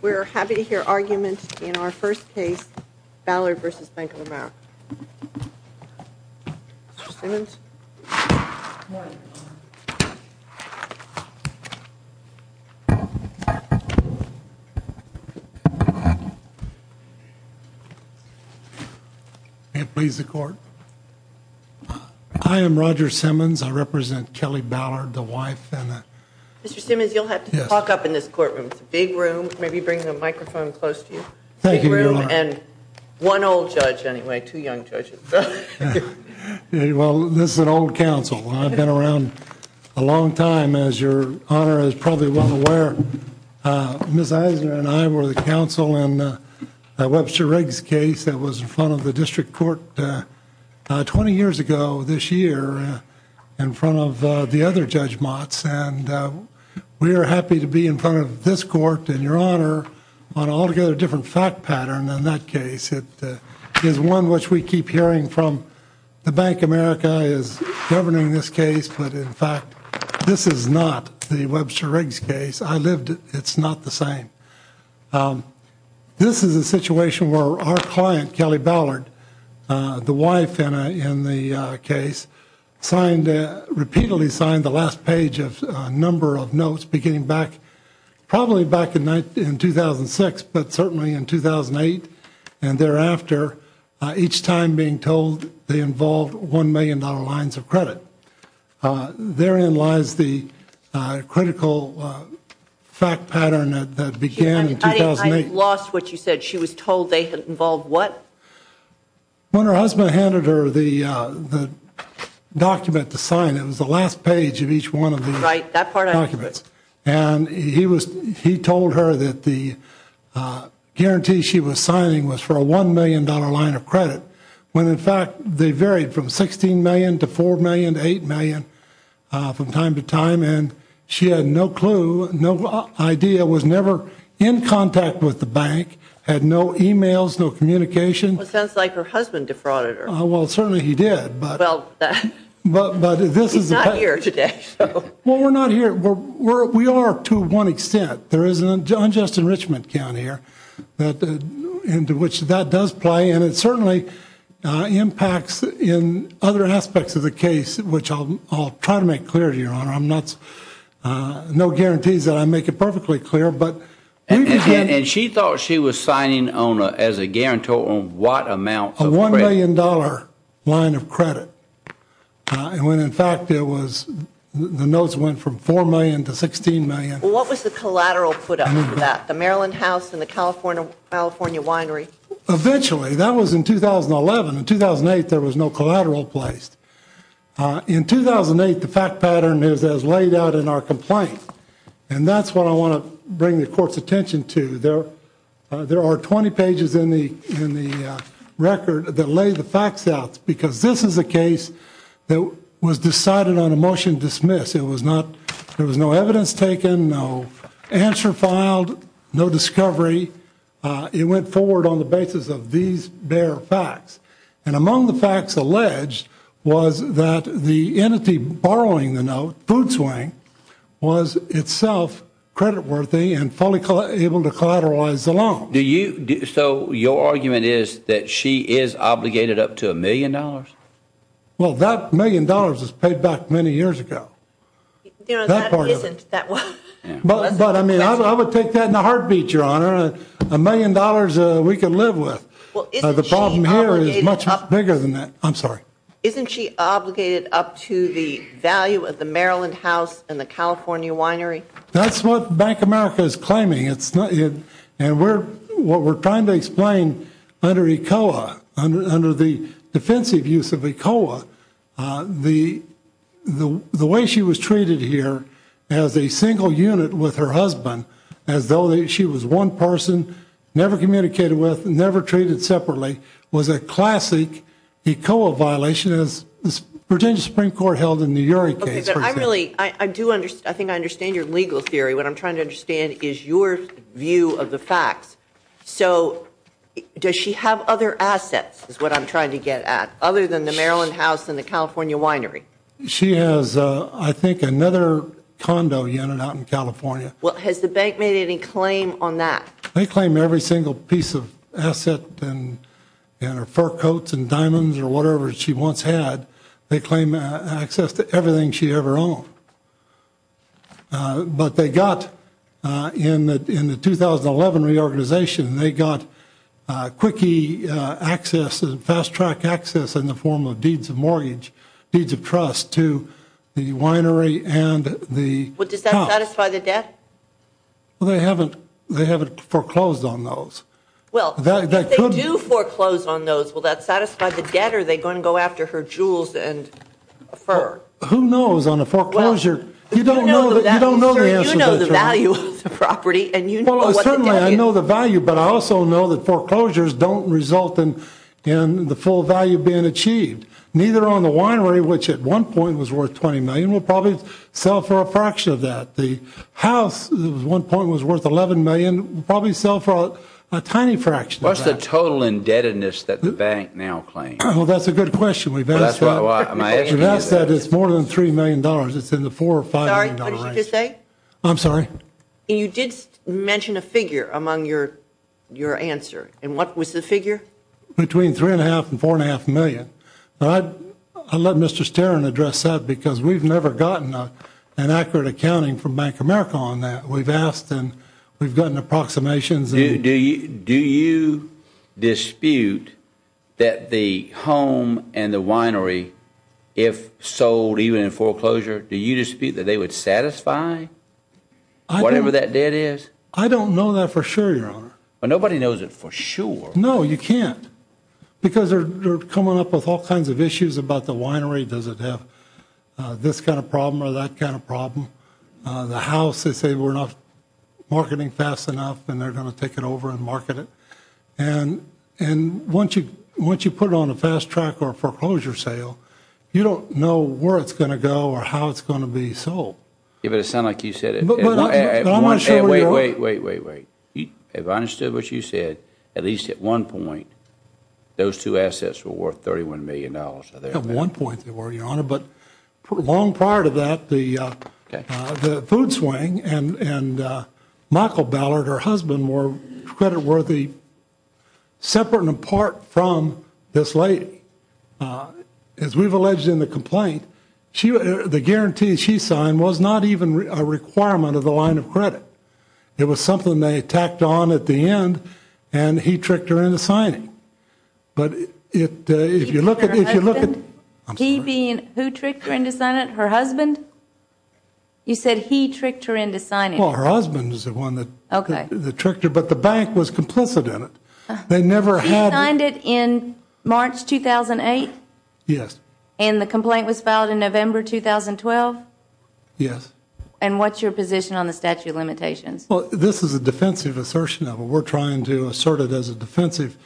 We're happy to hear arguments in our first case, Ballard v. Bank of America. Mr. Simmons? May it please the Court? I am Roger Simmons. I represent Kelly Ballard, the wife and the... It's a big room. Maybe bring the microphone close to you. Thank you, Your Honor. And one old judge, anyway, two young judges. Well, this is an old counsel. I've been around a long time, as Your Honor is probably well aware. Ms. Eisner and I were the counsel in Webster Riggs' case that was in front of the District Court 20 years ago this year in front of the other Judge Motts. And we are happy to be in front of this Court and Your Honor on an altogether different fact pattern than that case. It is one which we keep hearing from the Bank of America is governing this case. But, in fact, this is not the Webster Riggs case. I lived it. It's not the same. This is a situation where our client, Kelly Ballard, the wife in the case, repeatedly signed the last page of a number of notes beginning back, probably back in 2006, but certainly in 2008. And thereafter, each time being told they involved $1 million lines of credit. Therein lies the critical fact pattern that began in 2008. I lost what you said. She was told they involved what? When her husband handed her the document to sign, it was the last page of each one of the documents. Right, that part I understood. And he told her that the guarantee she was signing was for a $1 million line of credit, when, in fact, they varied from $16 million to $4 million to $8 million from time to time. And she had no clue, no idea, was never in contact with the bank, had no e-mails, no communication. Well, it sounds like her husband defrauded her. Well, certainly he did. Well, he's not here today. Well, we're not here. We are to one extent. There is an unjust enrichment count here into which that does play. And it certainly impacts in other aspects of the case, which I'll try to make clear to you, Your Honor. There are no guarantees that I make it perfectly clear. And she thought she was signing as a guarantor on what amount of credit? A $1 million line of credit, when, in fact, the notes went from $4 million to $16 million. Well, what was the collateral put up for that, the Maryland House and the California Winery? Eventually. That was in 2011. In 2008, there was no collateral placed. In 2008, the fact pattern is as laid out in our complaint. And that's what I want to bring the Court's attention to. There are 20 pages in the record that lay the facts out because this is a case that was decided on a motion dismiss. It was not, there was no evidence taken, no answer filed, no discovery. It went forward on the basis of these bare facts. And among the facts alleged was that the entity borrowing the note, Food Swing, was itself creditworthy and fully able to collateralize the loan. Do you, so your argument is that she is obligated up to $1 million? Well, that $1 million was paid back many years ago. That isn't that one. But I mean, I would take that in a heartbeat, Your Honor. A million dollars we could live with. The problem here is much bigger than that. I'm sorry. Isn't she obligated up to the value of the Maryland House and the California Winery? That's what Bank of America is claiming. And what we're trying to explain under ECOA, under the defensive use of ECOA, the way she was treated here as a single unit with her husband, as though she was one person, never communicated with, never treated separately, was a classic ECOA violation as Virginia Supreme Court held in the Urey case. I think I understand your legal theory. What I'm trying to understand is your view of the facts. So does she have other assets, is what I'm trying to get at, other than the Maryland House and the California Winery? She has, I think, another condo unit out in California. Well, has the bank made any claim on that? They claim every single piece of asset, fur coats and diamonds or whatever she once had. They claim access to everything she ever owned. But they got, in the 2011 reorganization, they got quickie access and fast-track access in the form of deeds of mortgage, deeds of trust to the winery and the cops. But does that satisfy the debt? Well, they haven't foreclosed on those. Well, if they do foreclose on those, will that satisfy the debt, or are they going to go after her jewels and fur? Who knows on a foreclosure? You don't know the answer to that. Sir, you know the value of the property, and you know what the debt is. Well, certainly I know the value, but I also know that foreclosures don't result in the full value being achieved. Neither on the winery, which at one point was worth $20 million, will probably sell for a fraction of that. The house at one point was worth $11 million, will probably sell for a tiny fraction of that. What's the total indebtedness that the bank now claims? Well, that's a good question. We've asked that. That's why I'm asking you this. We've asked that. It's more than $3 million. It's in the $4 or $5 million range. Sorry, what did you just say? I'm sorry? You did mention a figure among your answer. And what was the figure? Between $3.5 and $4.5 million. I'll let Mr. Sterin address that because we've never gotten an accurate accounting from Bank of America on that. We've asked and we've gotten approximations. Do you dispute that the home and the winery, if sold even in foreclosure, do you dispute that they would satisfy whatever that debt is? I don't know that for sure, Your Honor. Well, nobody knows it for sure. No, you can't. Because they're coming up with all kinds of issues about the winery. Does it have this kind of problem or that kind of problem? The house, they say we're not marketing fast enough and they're going to take it over and market it. And once you put it on a fast track or a foreclosure sale, you don't know where it's going to go or how it's going to be sold. You better sound like you said it. Wait, wait, wait, wait, wait. If I understood what you said, at least at one point, those two assets were worth $31 million. At one point they were, Your Honor. But long prior to that, the food swing and Michael Ballard, her husband, were creditworthy separate and apart from this lady. As we've alleged in the complaint, the guarantee she signed was not even a requirement of the line of credit. It was something they tacked on at the end and he tricked her into signing. But if you look at it. He being, who tricked her into signing it, her husband? You said he tricked her into signing it. Well, her husband is the one that tricked her. But the bank was complicit in it. They never had. He signed it in March 2008? Yes. And the complaint was filed in November 2012? Yes. And what's your position on the statute of limitations? Well, this is a defensive assertion of it. We're trying to assert it as a defensive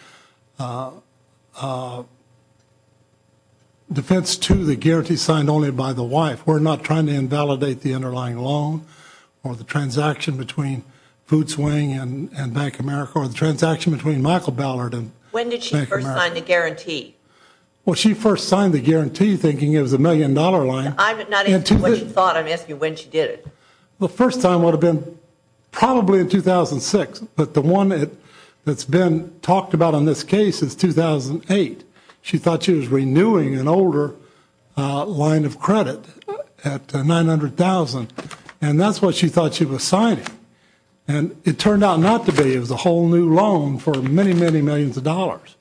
defense to the guarantee signed only by the wife. We're not trying to invalidate the underlying loan or the transaction between food swing and Bank of America or the transaction between Michael Ballard and Bank of America. When did she first sign the guarantee? Well, she first signed the guarantee thinking it was a million-dollar line. I'm not asking what she thought. I'm asking when she did it. The first time would have been probably in 2006. But the one that's been talked about in this case is 2008. She thought she was renewing an older line of credit at $900,000. And that's what she thought she was signing. And it turned out not to be. It was a whole new loan for many, many millions of dollars.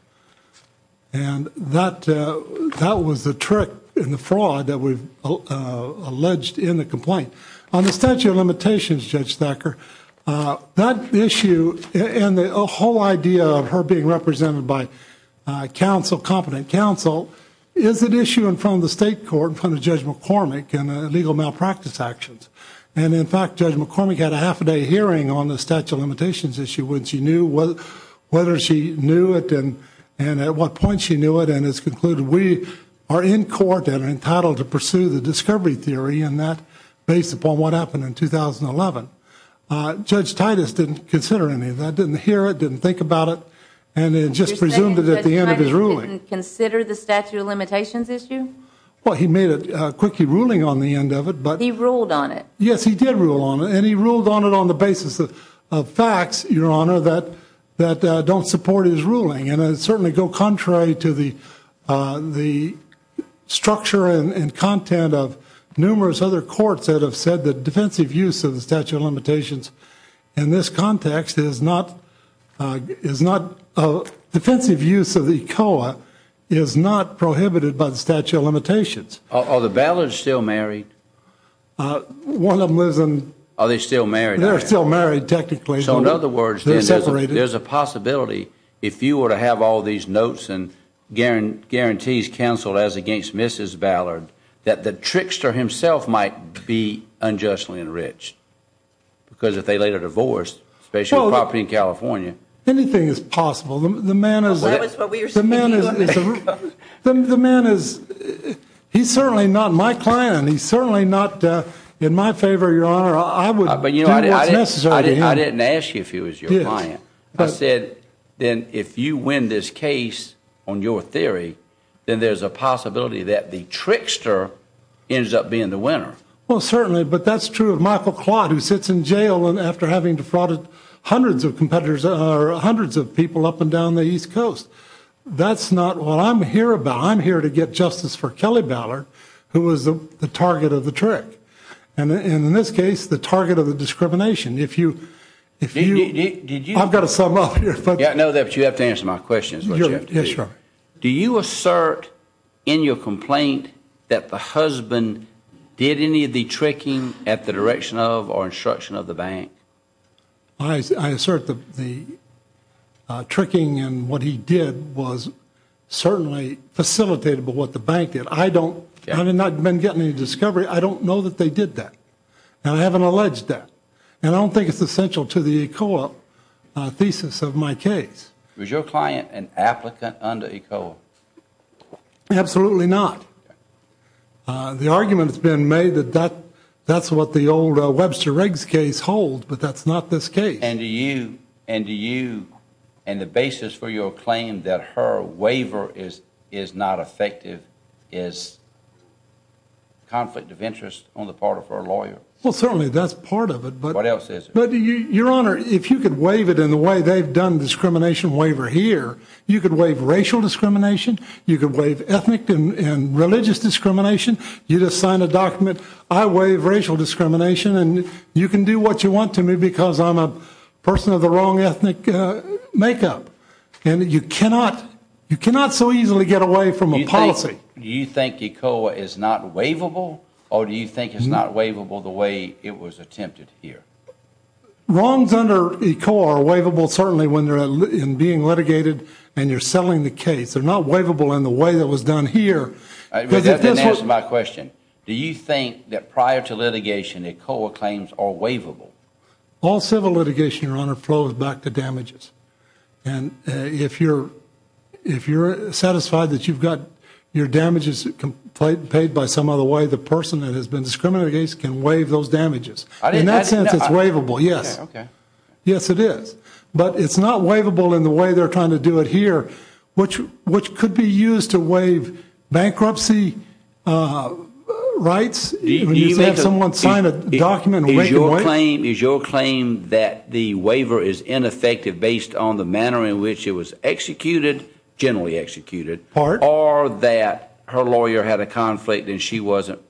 And that was the trick in the fraud that we've alleged in the complaint. On the statute of limitations, Judge Thacker, that issue and the whole idea of her being represented by counsel, competent counsel, is an issue in front of the state court, in front of Judge McCormick, in legal malpractice actions. And, in fact, Judge McCormick had a half-a-day hearing on the statute of limitations issue when she knew whether she knew it and at what point she knew it, and has concluded we are in court and entitled to pursue the discovery theory in that, based upon what happened in 2011. Judge Titus didn't consider any of that, didn't hear it, didn't think about it, and then just presumed it at the end of his ruling. Judge Titus didn't consider the statute of limitations issue? Well, he made a quickie ruling on the end of it. He ruled on it? Yes, he did rule on it. And he ruled on it on the basis of facts, Your Honor, that don't support his ruling. And I certainly go contrary to the structure and content of numerous other courts that have said that defensive use of the statute of limitations in this context is not, defensive use of the ECOA is not prohibited by the statute of limitations. Are the Ballard's still married? One of them lives in- Are they still married? They're still married, technically. So in other words, there's a possibility if you were to have all these notes and guarantees counseled as against Mrs. Ballard, that the trickster himself might be unjustly enriched, because if they later divorced, especially a property in California- Anything is possible. That's what we were speaking about. The man is, he's certainly not my client. He's certainly not in my favor, Your Honor. I would- I didn't ask you if he was your client. I said, then if you win this case on your theory, then there's a possibility that the trickster ends up being the winner. Well, certainly, but that's true of Michael Claude, who sits in jail after having defrauded hundreds of competitors, or hundreds of people up and down the East Coast. That's not what I'm here about. I'm here to get justice for Kelly Ballard, who was the target of the trick, and in this case, the target of the discrimination. If you- Did you- I've got to sum up here. Yeah, I know that, but you have to answer my questions. Yes, Your Honor. Do you assert in your complaint that the husband did any of the tricking at the direction of or instruction of the bank? I assert the tricking and what he did was certainly facilitated by what the bank did. I don't- Yeah. I've not been getting any discovery. I don't know that they did that, and I haven't alleged that, and I don't think it's essential to the ECOA thesis of my case. Was your client an applicant under ECOA? Absolutely not. The argument has been made that that's what the old Webster Riggs case holds, but that's not this case. And do you, and the basis for your claim that her waiver is not effective is conflict of interest on the part of her lawyer. Well, certainly that's part of it, but- What else is it? But, Your Honor, if you could waive it in the way they've done discrimination waiver here, you could waive racial discrimination, you could waive ethnic and religious discrimination. You just sign a document, I waive racial discrimination, and you can do what you want to me because I'm a person of the wrong ethnic makeup. And you cannot so easily get away from a policy. Do you think ECOA is not waivable, or do you think it's not waivable the way it was attempted here? Wrongs under ECOA are waivable certainly when they're being litigated and you're settling the case. They're not waivable in the way that was done here. That doesn't answer my question. Do you think that prior to litigation ECOA claims are waivable? All civil litigation, Your Honor, flows back to damages. And if you're satisfied that you've got your damages paid by some other way, the person that has been discriminated against can waive those damages. In that sense, it's waivable, yes. Okay. Yes, it is. But it's not waivable in the way they're trying to do it here, which could be used to waive bankruptcy rights. You just have someone sign a document and waive it away. Is your claim that the waiver is ineffective based on the manner in which it was executed, generally executed, or that her lawyer had a conflict and it wasn't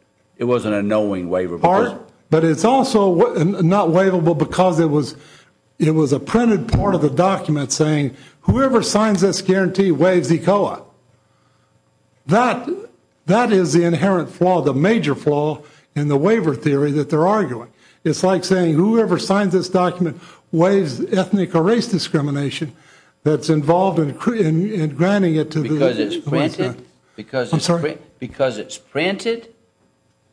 a knowing waiver? Part. But it's also not waivable because it was a printed part of the document saying, whoever signs this guarantee waives ECOA. That is the inherent flaw, the major flaw in the waiver theory that they're arguing. It's like saying, whoever signs this document waives ethnic or race discrimination that's involved in granting it to the U.S. government. Because it's printed? I'm sorry? Because it's printed?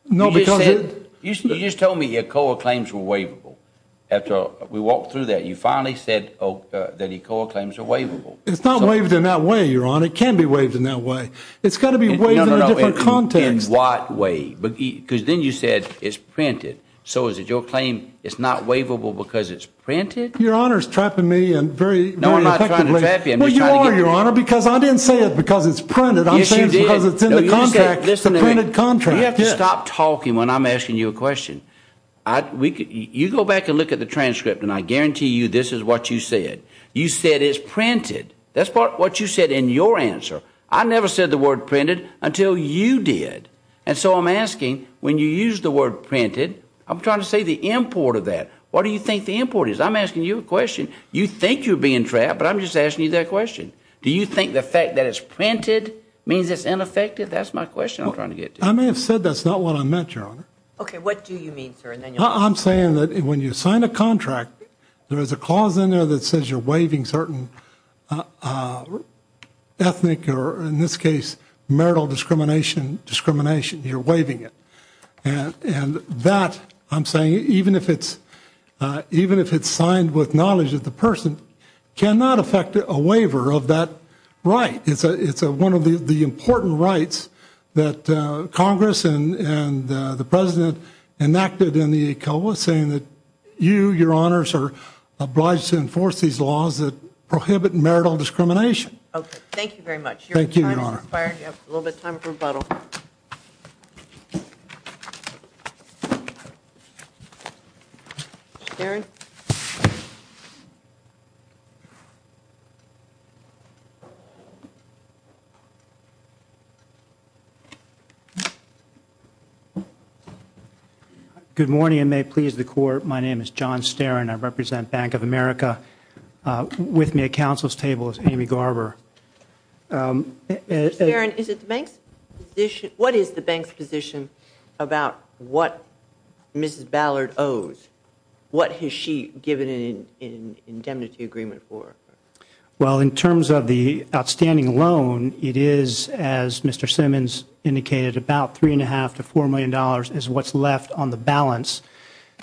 No. You just told me ECOA claims were waivable. After we walked through that, you finally said that ECOA claims are waivable. It's not waived in that way, Your Honor. It can be waived in that way. It's got to be waived in a different context. In what way? Because then you said it's printed. So is it your claim it's not waivable because it's printed? Your Honor is trapping me very effectively. No, I'm not trying to trap you. Well, you are, Your Honor, because I didn't say it because it's printed. Yes, you did. Because it's in the contract, the printed contract. You have to stop talking when I'm asking you a question. You go back and look at the transcript, and I guarantee you this is what you said. You said it's printed. That's what you said in your answer. I never said the word printed until you did. And so I'm asking, when you use the word printed, I'm trying to say the import of that. What do you think the import is? I'm asking you a question. You think you're being trapped, but I'm just asking you that question. Do you think the fact that it's printed means it's ineffective? That's my question I'm trying to get to. I may have said that's not what I meant, Your Honor. Okay, what do you mean, sir? I'm saying that when you sign a contract, there is a clause in there that says you're waiving certain ethnic or, in this case, marital discrimination, you're waiving it. And that, I'm saying, even if it's signed with knowledge of the person, cannot affect a waiver of that right. It's one of the important rights that Congress and the President enacted in the ECOA saying that you, Your Honors, are obliged to enforce these laws that prohibit marital discrimination. Okay, thank you very much. Thank you, Your Honor. A little bit of time for rebuttal. Good morning, and may it please the Court. My name is John Sterin. I represent Bank of America. With me at counsel's table is Amy Garber. Mr. Sterin, what is the bank's position about what Mrs. Ballard owes? What has she given an indemnity agreement for? Well, in terms of the outstanding loan, it is, as Mr. Simmons indicated, about $3.5 to $4 million is what's left on the balance.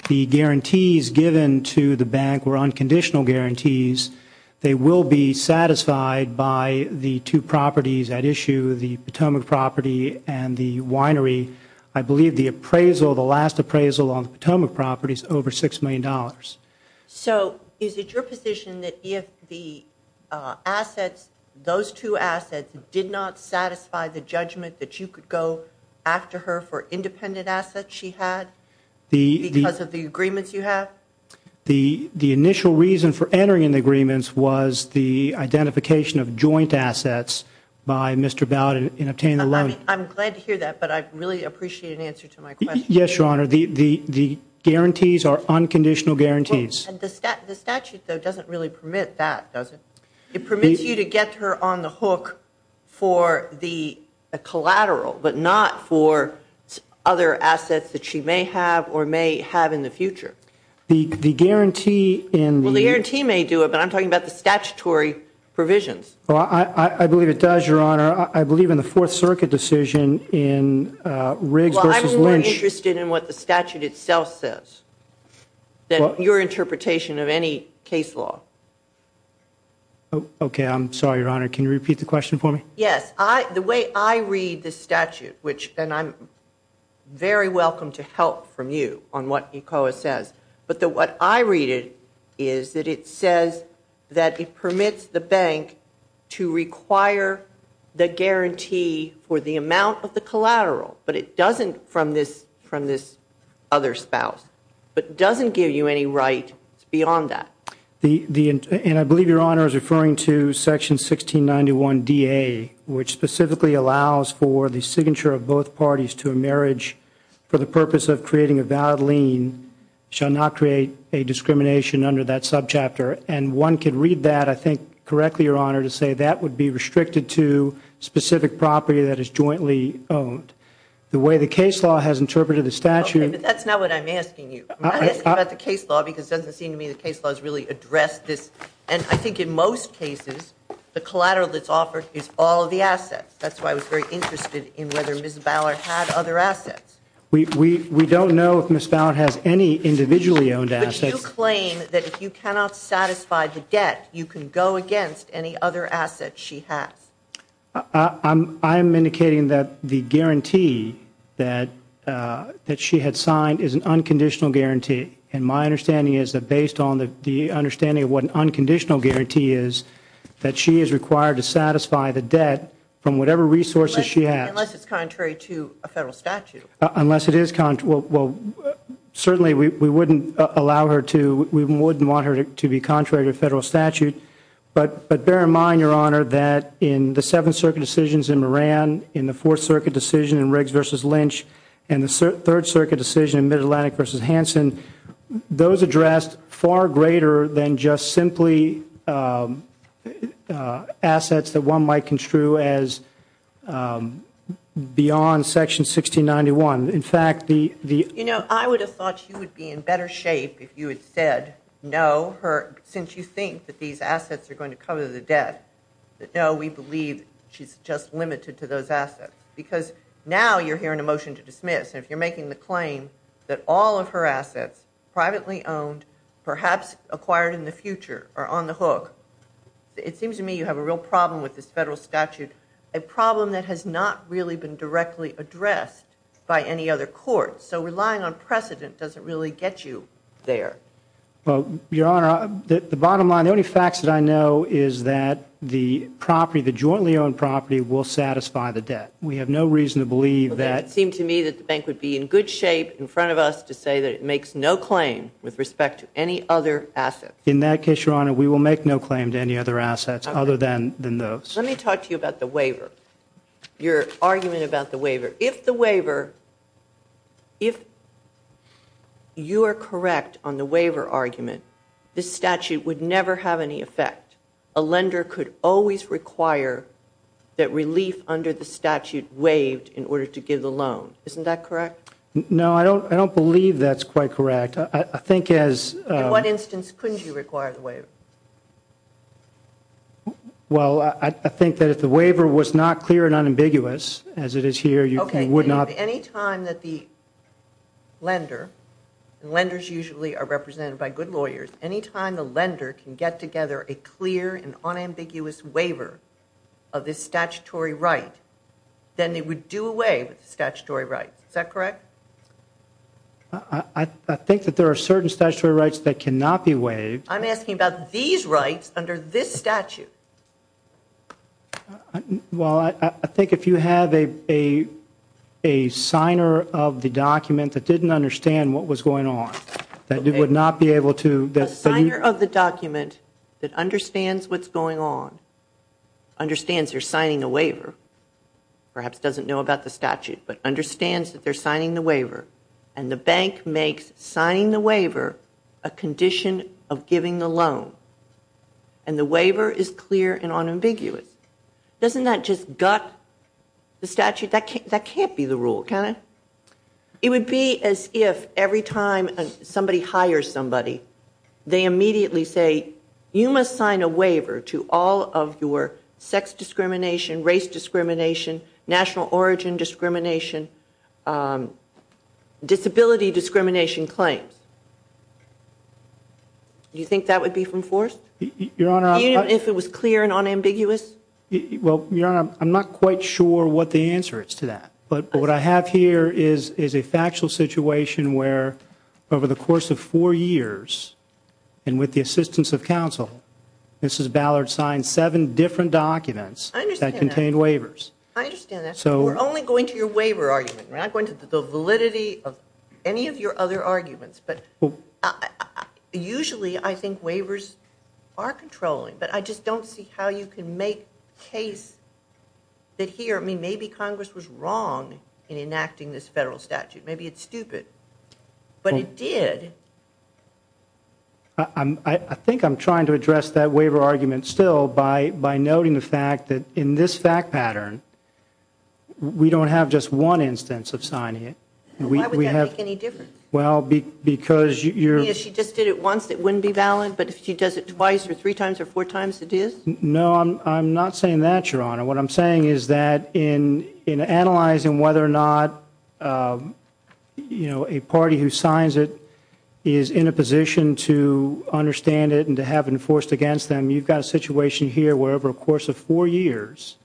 The guarantees given to the bank were unconditional guarantees. They will be satisfied by the two properties at issue, the Potomac property and the winery. I believe the appraisal, the last appraisal on the Potomac property is over $6 million. So is it your position that if the assets, those two assets, did not satisfy the judgment that you could go after her for independent assets she had because of the agreements you have? The initial reason for entering in the agreements was the identification of joint assets by Mr. Ballard in obtaining the loan. I'm glad to hear that, but I'd really appreciate an answer to my question. Yes, Your Honor. The guarantees are unconditional guarantees. The statute, though, doesn't really permit that, does it? It permits you to get her on the hook for the collateral, but not for other assets that she may have or may have in the future. The guarantee in the- Well, the guarantee may do it, but I'm talking about the statutory provisions. I believe it does, Your Honor. I believe in the Fourth Circuit decision in Riggs v. Lynch- Well, I'm more interested in what the statute itself says than your interpretation of any case law. Okay, I'm sorry, Your Honor. Can you repeat the question for me? Yes. The way I read the statute, and I'm very welcome to help from you on what ECOA says, but what I read is that it says that it permits the bank to require the guarantee for the amount of the collateral, but it doesn't from this other spouse, but doesn't give you any right beyond that. And I believe Your Honor is referring to Section 1691DA, which specifically allows for the signature of both parties to a marriage for the purpose of creating a valid lien, shall not create a discrimination under that subchapter. And one could read that, I think, correctly, Your Honor, to say that would be restricted to specific property that is jointly owned. The way the case law has interpreted the statute- Okay, but that's not what I'm asking you. I'm not asking you about the case law because it doesn't seem to me the case law has really addressed this. And I think in most cases, the collateral that's offered is all of the assets. That's why I was very interested in whether Ms. Ballard had other assets. We don't know if Ms. Ballard has any individually owned assets. But you claim that if you cannot satisfy the debt, you can go against any other assets she has. I'm indicating that the guarantee that she had signed is an unconditional guarantee. And my understanding is that based on the understanding of what an unconditional guarantee is, that she is required to satisfy the debt from whatever resources she has. Unless it's contrary to a Federal statute. Unless it is contrary. Well, certainly we wouldn't allow her to, we wouldn't want her to be contrary to a Federal statute. But bear in mind, Your Honor, that in the Seventh Circuit decisions in Moran, in the Fourth Circuit decision in Riggs v. Lynch, and the Third Circuit decision in Mid-Atlantic v. Hansen, those addressed far greater than just simply assets that one might construe as beyond Section 1691. In fact, the- You know, I would have thought you would be in better shape if you had said no, since you think that these assets are going to cover the debt, that no, we believe she's just limited to those assets. Because now you're hearing a motion to dismiss. And if you're making the claim that all of her assets, privately owned, perhaps acquired in the future, are on the hook, it seems to me you have a real problem with this Federal statute, a problem that has not really been directly addressed by any other court. So relying on precedent doesn't really get you there. Well, Your Honor, the bottom line, the only facts that I know is that the property, the jointly owned property, will satisfy the debt. We have no reason to believe that- Well, then it would seem to me that the bank would be in good shape in front of us to say that it makes no claim with respect to any other assets. In that case, Your Honor, we will make no claim to any other assets other than those. Let me talk to you about the waiver, your argument about the waiver. If the waiver- if you are correct on the waiver argument, this statute would never have any effect. A lender could always require that relief under the statute waived in order to give the loan. Isn't that correct? No, I don't believe that's quite correct. I think as- In what instance couldn't you require the waiver? Well, I think that if the waiver was not clear and unambiguous, as it is here, you would not- Okay, any time that the lender, and lenders usually are represented by good lawyers, any time the lender can get together a clear and unambiguous waiver of this statutory right, then it would do away with the statutory rights. Is that correct? I think that there are certain statutory rights that cannot be waived- I'm asking about these rights under this statute. Well, I think if you have a signer of the document that didn't understand what was going on, that would not be able to- A signer of the document that understands what's going on, understands they're signing a waiver, perhaps doesn't know about the statute, but understands that they're signing the waiver, and the bank makes signing the waiver a condition of giving the loan, and the waiver is clear and unambiguous. Doesn't that just gut the statute? That can't be the rule, can it? It would be as if every time somebody hires somebody, they immediately say, you must sign a waiver to all of your sex discrimination, race discrimination, national origin discrimination, disability discrimination claims. Do you think that would be enforced? Your Honor- Even if it was clear and unambiguous? Well, Your Honor, I'm not quite sure what the answer is to that. But what I have here is a factual situation where over the course of four years, and with the assistance of counsel, Mrs. Ballard signed seven different documents that contained waivers. I understand that. We're only going to your waiver argument. We're not going to the validity of any of your other arguments, but usually I think waivers are controlling, but I just don't see how you can make the case that here, maybe Congress was wrong in enacting this federal statute. Maybe it's stupid, but it did. I think I'm trying to address that waiver argument still by noting the fact that in this fact pattern, we don't have just one instance of signing it. Why would that make any difference? Well, because you're- If she just did it once, it wouldn't be valid, but if she does it twice or three times or four times, it is? No, I'm not saying that, Your Honor. What I'm saying is that in analyzing whether or not a party who signs it is in a position to understand it and to have it enforced against them, you've got a situation here where over the course of four years,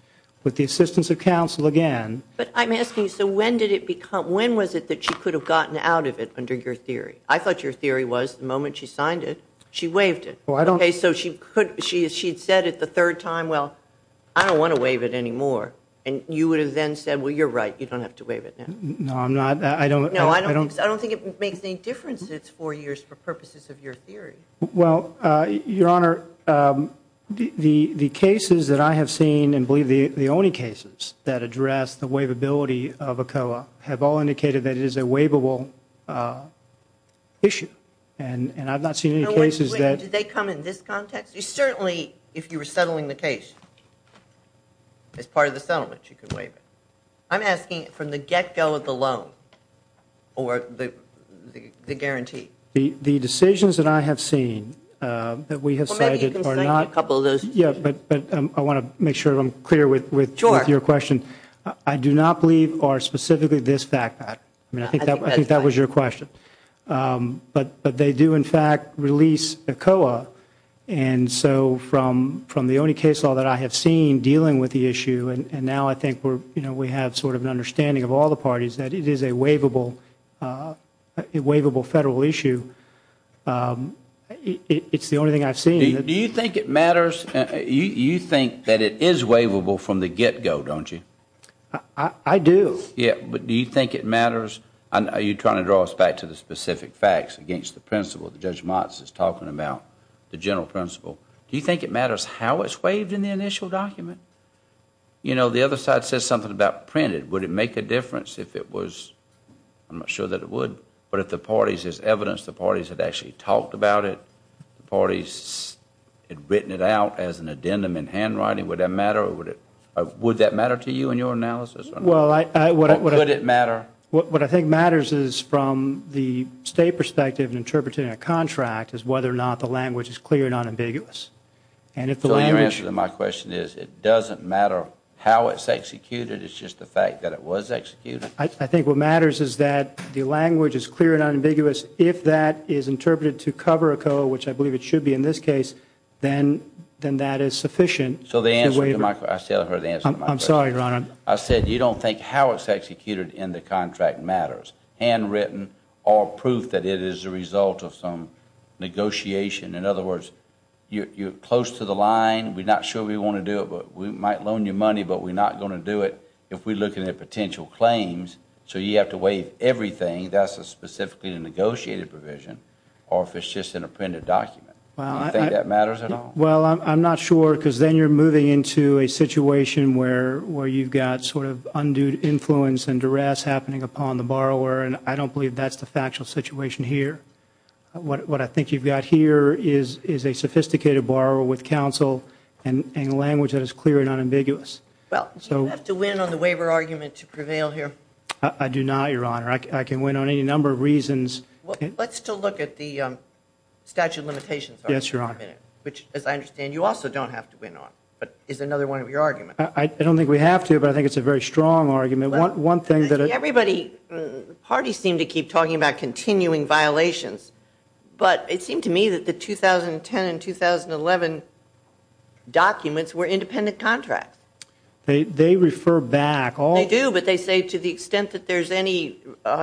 with the assistance of counsel again- But I'm asking, so when did it become- When was it that she could have gotten out of it under your theory? I thought your theory was the moment she signed it, she waived it. Okay, so she'd said it the third time, well, I don't want to waive it anymore, and you would have then said, well, you're right, you don't have to waive it now. No, I'm not. No, I don't think it makes any difference that it's four years for purposes of your theory. Well, Your Honor, the cases that I have seen, and believe the only cases that address the waivability of a COA have all indicated that it is a waivable issue, and I've not seen any cases that- Did they come in this context? Certainly, if you were settling the case as part of the settlement, you could waive it. I'm asking from the get-go of the loan or the guarantee. The decisions that I have seen that we have cited are not- Well, maybe you can cite a couple of those decisions. Yes, but I want to make sure I'm clear with your question. Sure. I do not believe are specifically this fact. I think that was your question. But they do, in fact, release a COA, and so from the only case law that I have seen dealing with the issue, and now I think we have sort of an understanding of all the parties that it is a waivable federal issue, it's the only thing I've seen. Do you think it matters? You think that it is waivable from the get-go, don't you? I do. Yes, but do you think it matters? Are you trying to draw us back to the specific facts against the principle? Judge Motz is talking about the general principle. Do you think it matters how it's waived in the initial document? You know, the other side says something about printed. Would it make a difference if it was- I'm not sure that it would, but if the parties- there's evidence the parties had actually talked about it, the parties had written it out as an addendum in handwriting, would that matter? Would that matter to you in your analysis? Would it matter? What I think matters is from the state perspective in interpreting a contract is whether or not the language is clear and unambiguous. So your answer to my question is it doesn't matter how it's executed, it's just the fact that it was executed? I think what matters is that the language is clear and unambiguous. If that is interpreted to cover a code, which I believe it should be in this case, then that is sufficient to waive- So the answer to my- I said I heard the answer to my question. I'm sorry, Your Honor. I said you don't think how it's executed in the contract matters, handwritten or proof that it is a result of some negotiation. In other words, you're close to the line. We're not sure we want to do it, but we might loan you money, but we're not going to do it if we're looking at potential claims. So you have to waive everything. That's a specifically negotiated provision or if it's just in a printed document. Do you think that matters at all? Well, I'm not sure because then you're moving into a situation where you've got sort of undue influence and duress happening upon the borrower, and I don't believe that's the factual situation here. What I think you've got here is a sophisticated borrower with counsel and language that is clear and unambiguous. Well, do you have to win on the waiver argument to prevail here? I do not, Your Honor. I can win on any number of reasons. Let's still look at the statute of limitations argument for a minute. Yes, Your Honor. Which, as I understand, you also don't have to win on. But it's another one of your arguments. I don't think we have to, but I think it's a very strong argument. One thing that I... Everybody, the parties seem to keep talking about continuing violations, but it seemed to me that the 2010 and 2011 documents were independent contracts. They refer back all...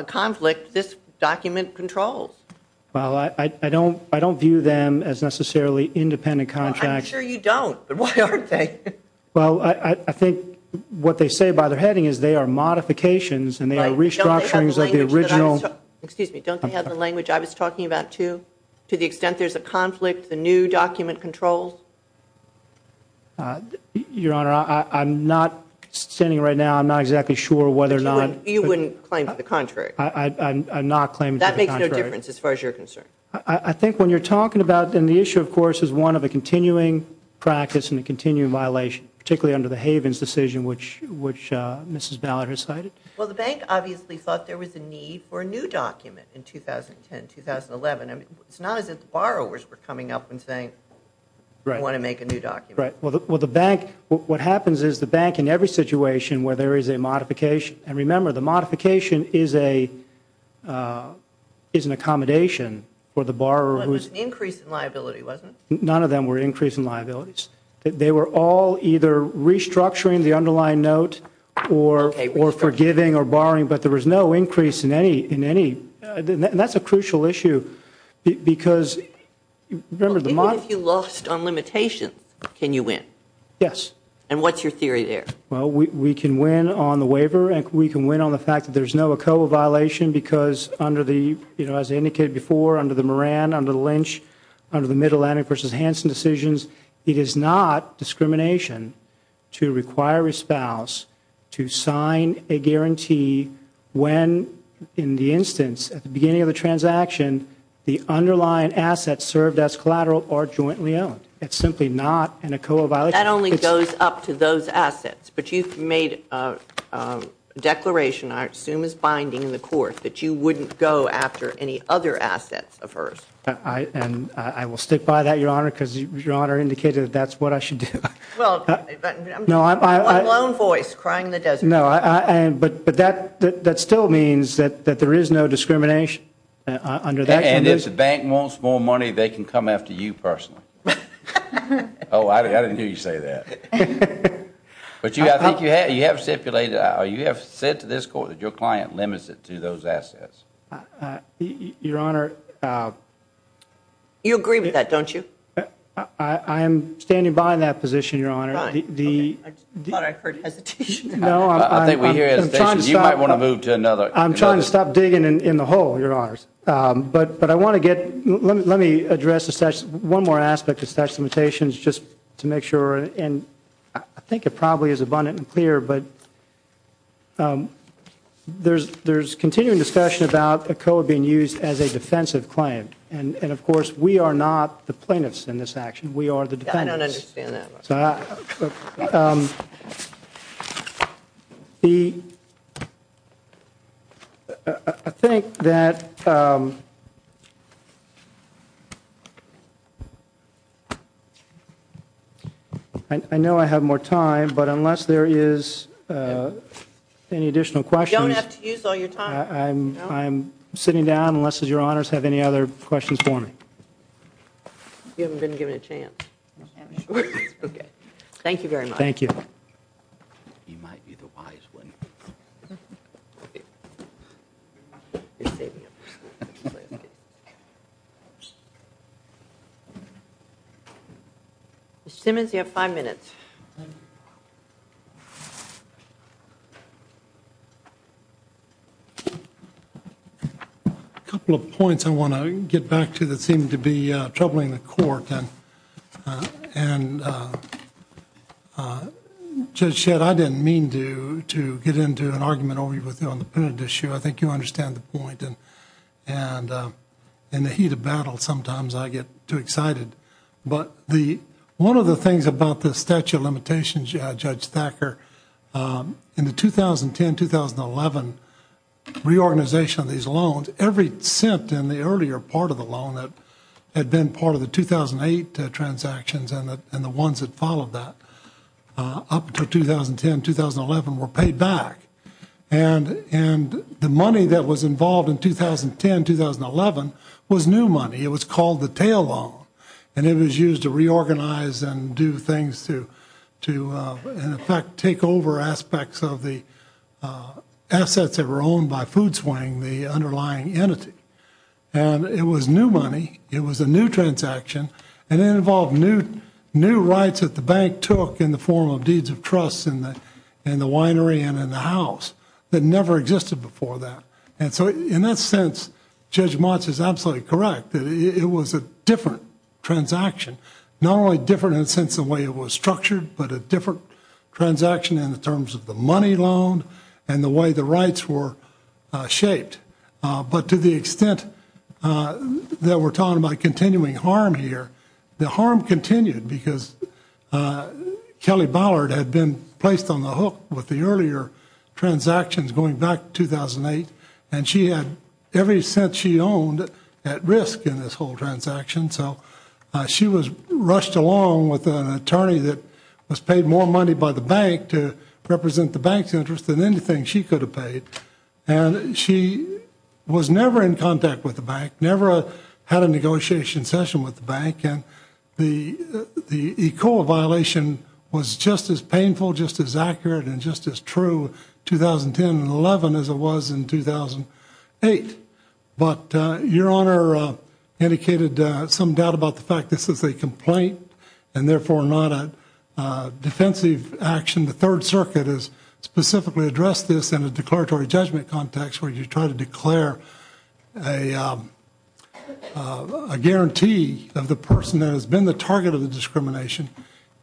conflict this document controls. Well, I don't view them as necessarily independent contracts. I'm sure you don't, but why aren't they? Well, I think what they say by their heading is they are modifications and they are restructurings of the original. Excuse me. Don't they have the language I was talking about, too, to the extent there's a conflict the new document controls? Your Honor, I'm not standing right now. I'm not exactly sure whether or not... You wouldn't claim to the contrary. I'm not claiming to the contrary. That makes no difference as far as you're concerned. I think when you're talking about, and the issue, of course, is one of a continuing practice and a continuing violation, particularly under the Havens decision, which Mrs. Ballard has cited. Well, the bank obviously thought there was a need for a new document in 2010, 2011. It's not as if the borrowers were coming up and saying, we want to make a new document. Well, the bank... What happens is the bank, in every situation where there is a modification, and remember, the modification is an accommodation for the borrower who is... It was an increase in liability, wasn't it? None of them were an increase in liabilities. They were all either restructuring the underlying note or forgiving or borrowing, but there was no increase in any... And that's a crucial issue because... Even if you lost on limitations, can you win? Yes. And what's your theory there? Well, we can win on the waiver, and we can win on the fact that there's no ECOA violation because under the, as I indicated before, under the Moran, under the Lynch, under the Mid-Atlantic v. Hansen decisions, it is not discrimination to require a spouse to sign a guarantee when, in the instance, at the beginning of the transaction, the underlying assets served as collateral are jointly owned. It's simply not an ECOA violation. That only goes up to those assets. But you've made a declaration, I assume it's binding in the court, that you wouldn't go after any other assets of hers. And I will stick by that, Your Honor, because Your Honor indicated that that's what I should do. Well, I'm a lone voice crying in the desert. No, but that still means that there is no discrimination under that condition. And if the bank wants more money, they can come after you personally. Oh, I didn't hear you say that. But I think you have stipulated, you have said to this court that your client limits it to those assets. Your Honor, You agree with that, don't you? I am standing by that position, Your Honor. I thought I heard hesitation. No, I think we hear hesitation. You might want to move to another. I'm trying to stop digging in the hole, Your Honors. But I want to get, let me address one more aspect of statute of limitations, just to make sure, and I think it probably is abundant and clear, but there's continuing discussion about ECOA being used as a defensive claim. And, of course, we are not the plaintiffs in this action. We are the defendants. I don't understand that. I think that I know I have more time, but unless there is any additional questions, You don't have to use all your time. I'm sitting down unless Your Honors have any other questions for me. You haven't been given a chance. Thank you very much. Thank you. Ms. Simmons, you have five minutes. Thank you. A couple of points I want to get back to that seem to be troubling the court. Judge Shedd, I didn't mean to get into an argument over you on the punitive issue. I think you understand the point. In the heat of battle, sometimes I get too excited. But one of the things about the statute of limitations, Judge Thacker, in the 2010-2011 reorganization of these loans, every cent in the earlier part of the loan that had been part of the 2008 transactions and the ones that followed that up to 2010-2011 were paid back. And the money that was involved in 2010-2011 was new money. It was called the tail loan. And it was used to reorganize and do things to, in effect, take over aspects of the assets that were owned by Food Swing, the underlying entity. And it was new money. It was a new transaction. And it involved new rights that the bank took in the form of deeds of trust in the winery and in the house that never existed before that. And so in that sense, Judge Motz is absolutely correct. It was a different transaction. Not only different in the sense of the way it was structured, but a different transaction in the terms of the money loan and the way the rights were shaped. But to the extent that we're talking about continuing harm here, the harm continued because Kelly Ballard had been placed on the hook with the earlier transactions going back to 2008. And she had every cent she owned at risk in this whole transaction. So she was rushed along with an attorney that was paid more money by the bank to represent the bank's interest than anything she could have paid. And she was never in contact with the bank, never had a negotiation session with the bank. And the ECOA violation was just as painful, just as accurate, and just as true 2010 and 11 as it was in 2008. But Your Honor indicated some doubt about the fact this is a complaint and therefore not a defensive action. The Third Circuit has specifically addressed this in a declaratory judgment context where you try to declare a guarantee of the person that has been the target of the discrimination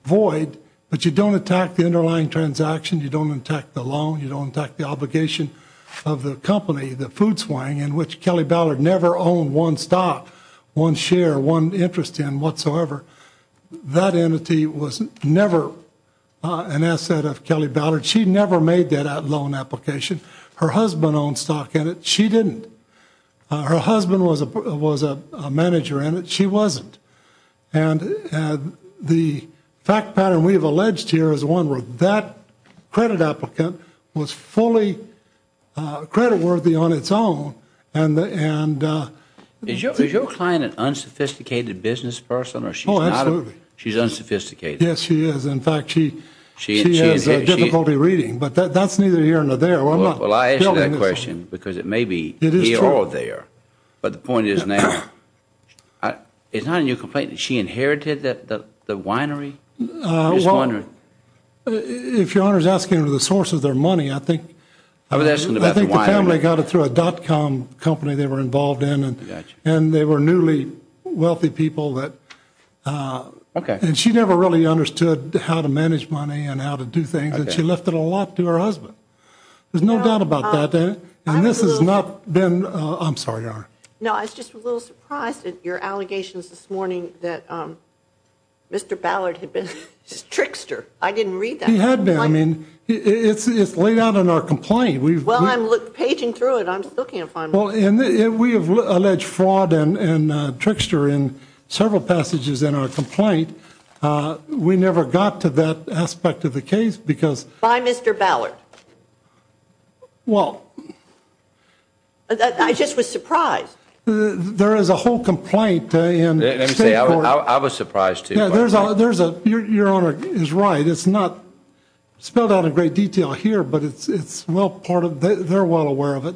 void, but you don't attack the underlying transaction, you don't attack the loan, you don't attack the obligation of the company, the food swine, in which Kelly Ballard never owned one stock, one share, one interest in whatsoever. That entity was never an asset of Kelly Ballard. She never made that loan application. Her husband owned stock in it. She didn't. Her husband was a manager in it. She wasn't. And the fact pattern we have alleged here is one where that credit applicant was fully creditworthy on its own. Is your client an unsophisticated business person or she's not? Oh, absolutely. She's unsophisticated. Yes, she is. In fact, she has difficulty reading. But that's neither here nor there. Well, I ask that question because it may be here or there. It is true. But the point is now. It's not in your complaint that she inherited the winery? Well, if your Honor is asking to the source of their money, I think the family got it through a dot-com company they were involved in and they were newly wealthy people. Okay. And she never really understood how to manage money and how to do things. And she left it a lot to her husband. There's no doubt about that. And this has not been. I'm sorry, Your Honor. No, I was just a little surprised at your allegations this morning that Mr. Ballard had been a trickster. I didn't read that. He had been. I mean, it's laid out in our complaint. Well, I'm paging through it. I'm still can't find it. Well, we have alleged fraud and trickster in several passages in our complaint. We never got to that aspect of the case because. By Mr. Ballard? Well. I just was surprised. There is a whole complaint. Let me say, I was surprised, too. Your Honor is right. It's not spelled out in great detail here, but it's well part of it. They're well aware of it.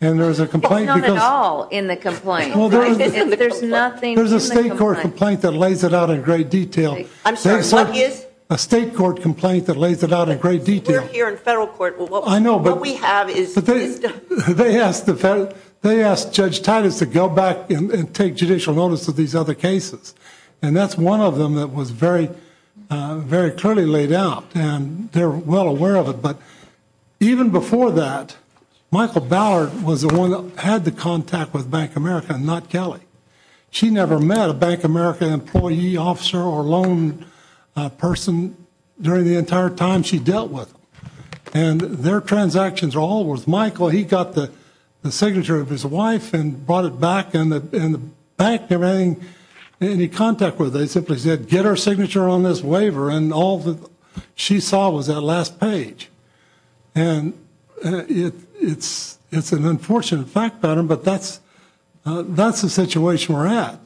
And there's a complaint. It's not at all in the complaint. There's nothing in the complaint. There's not a complaint that lays it out in great detail. I'm sorry, what is? A state court complaint that lays it out in great detail. We're here in federal court. I know, but. What we have is. They asked Judge Titus to go back and take judicial notice of these other cases. And that's one of them that was very, very clearly laid out. And they're well aware of it. But even before that, Michael Ballard was the one that had the contact with Bank of America, not Kelly. She never met a Bank of America employee, officer, or loan person during the entire time she dealt with them. And their transactions are all with Michael. He got the signature of his wife and brought it back. And the bank never had any contact with her. They simply said, get her signature on this waiver. And all that she saw was that last page. And it's an unfortunate fact pattern, but that's the situation we're at.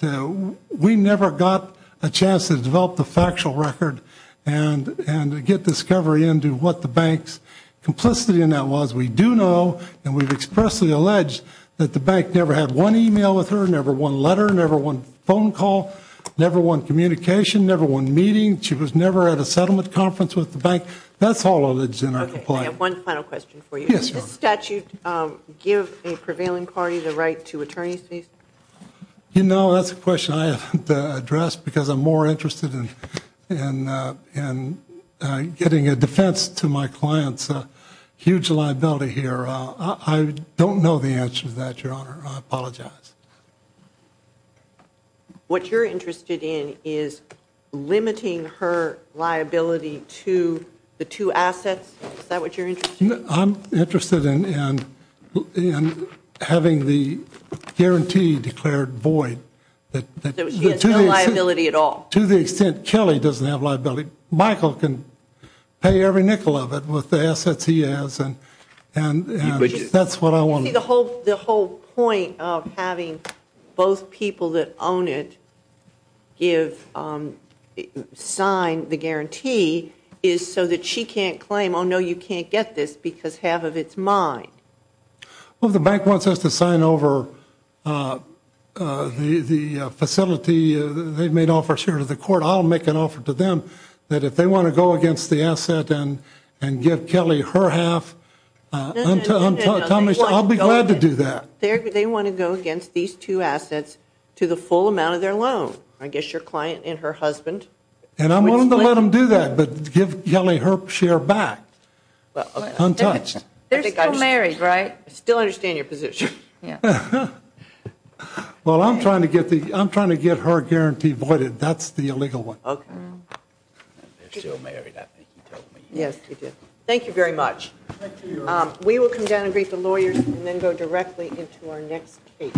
We never got a chance to develop the factual record and get discovery into what the bank's complicity in that was. We do know, and we've expressly alleged, that the bank never had one e-mail with her, never one letter, never one phone call, never one communication, never one meeting. She was never at a settlement conference with the bank. That's all of the general complaint. Okay, I have one final question for you. Yes, Your Honor. Does the statute give a prevailing party the right to attorney's fees? You know, that's a question I have to address because I'm more interested in getting a defense to my client's huge liability here. I don't know the answer to that, Your Honor. I apologize. What you're interested in is limiting her liability to the two assets? Is that what you're interested in? I'm interested in having the guarantee declared void. So she has no liability at all. To the extent Kelly doesn't have liability, Michael can pay every nickel of it with the assets he has, and that's what I want. See, the whole point of having both people that own it sign the guarantee is so that she can't claim, oh, no, you can't get this because half of it's mine. Well, if the bank wants us to sign over the facility they've made offers here to the court, I'll make an offer to them that if they want to go against the asset and give Kelly her half, I'll be glad to do that. They want to go against these two assets to the full amount of their loan, I guess your client and her husband. And I'm willing to let them do that, but give Kelly her share back, untouched. They're still married, right? I still understand your position. Well, I'm trying to get her guarantee voided. That's the illegal one. They're still married, I think you told me. Yes, we did. Thank you very much. We will come down and greet the lawyers and then go directly into our next case.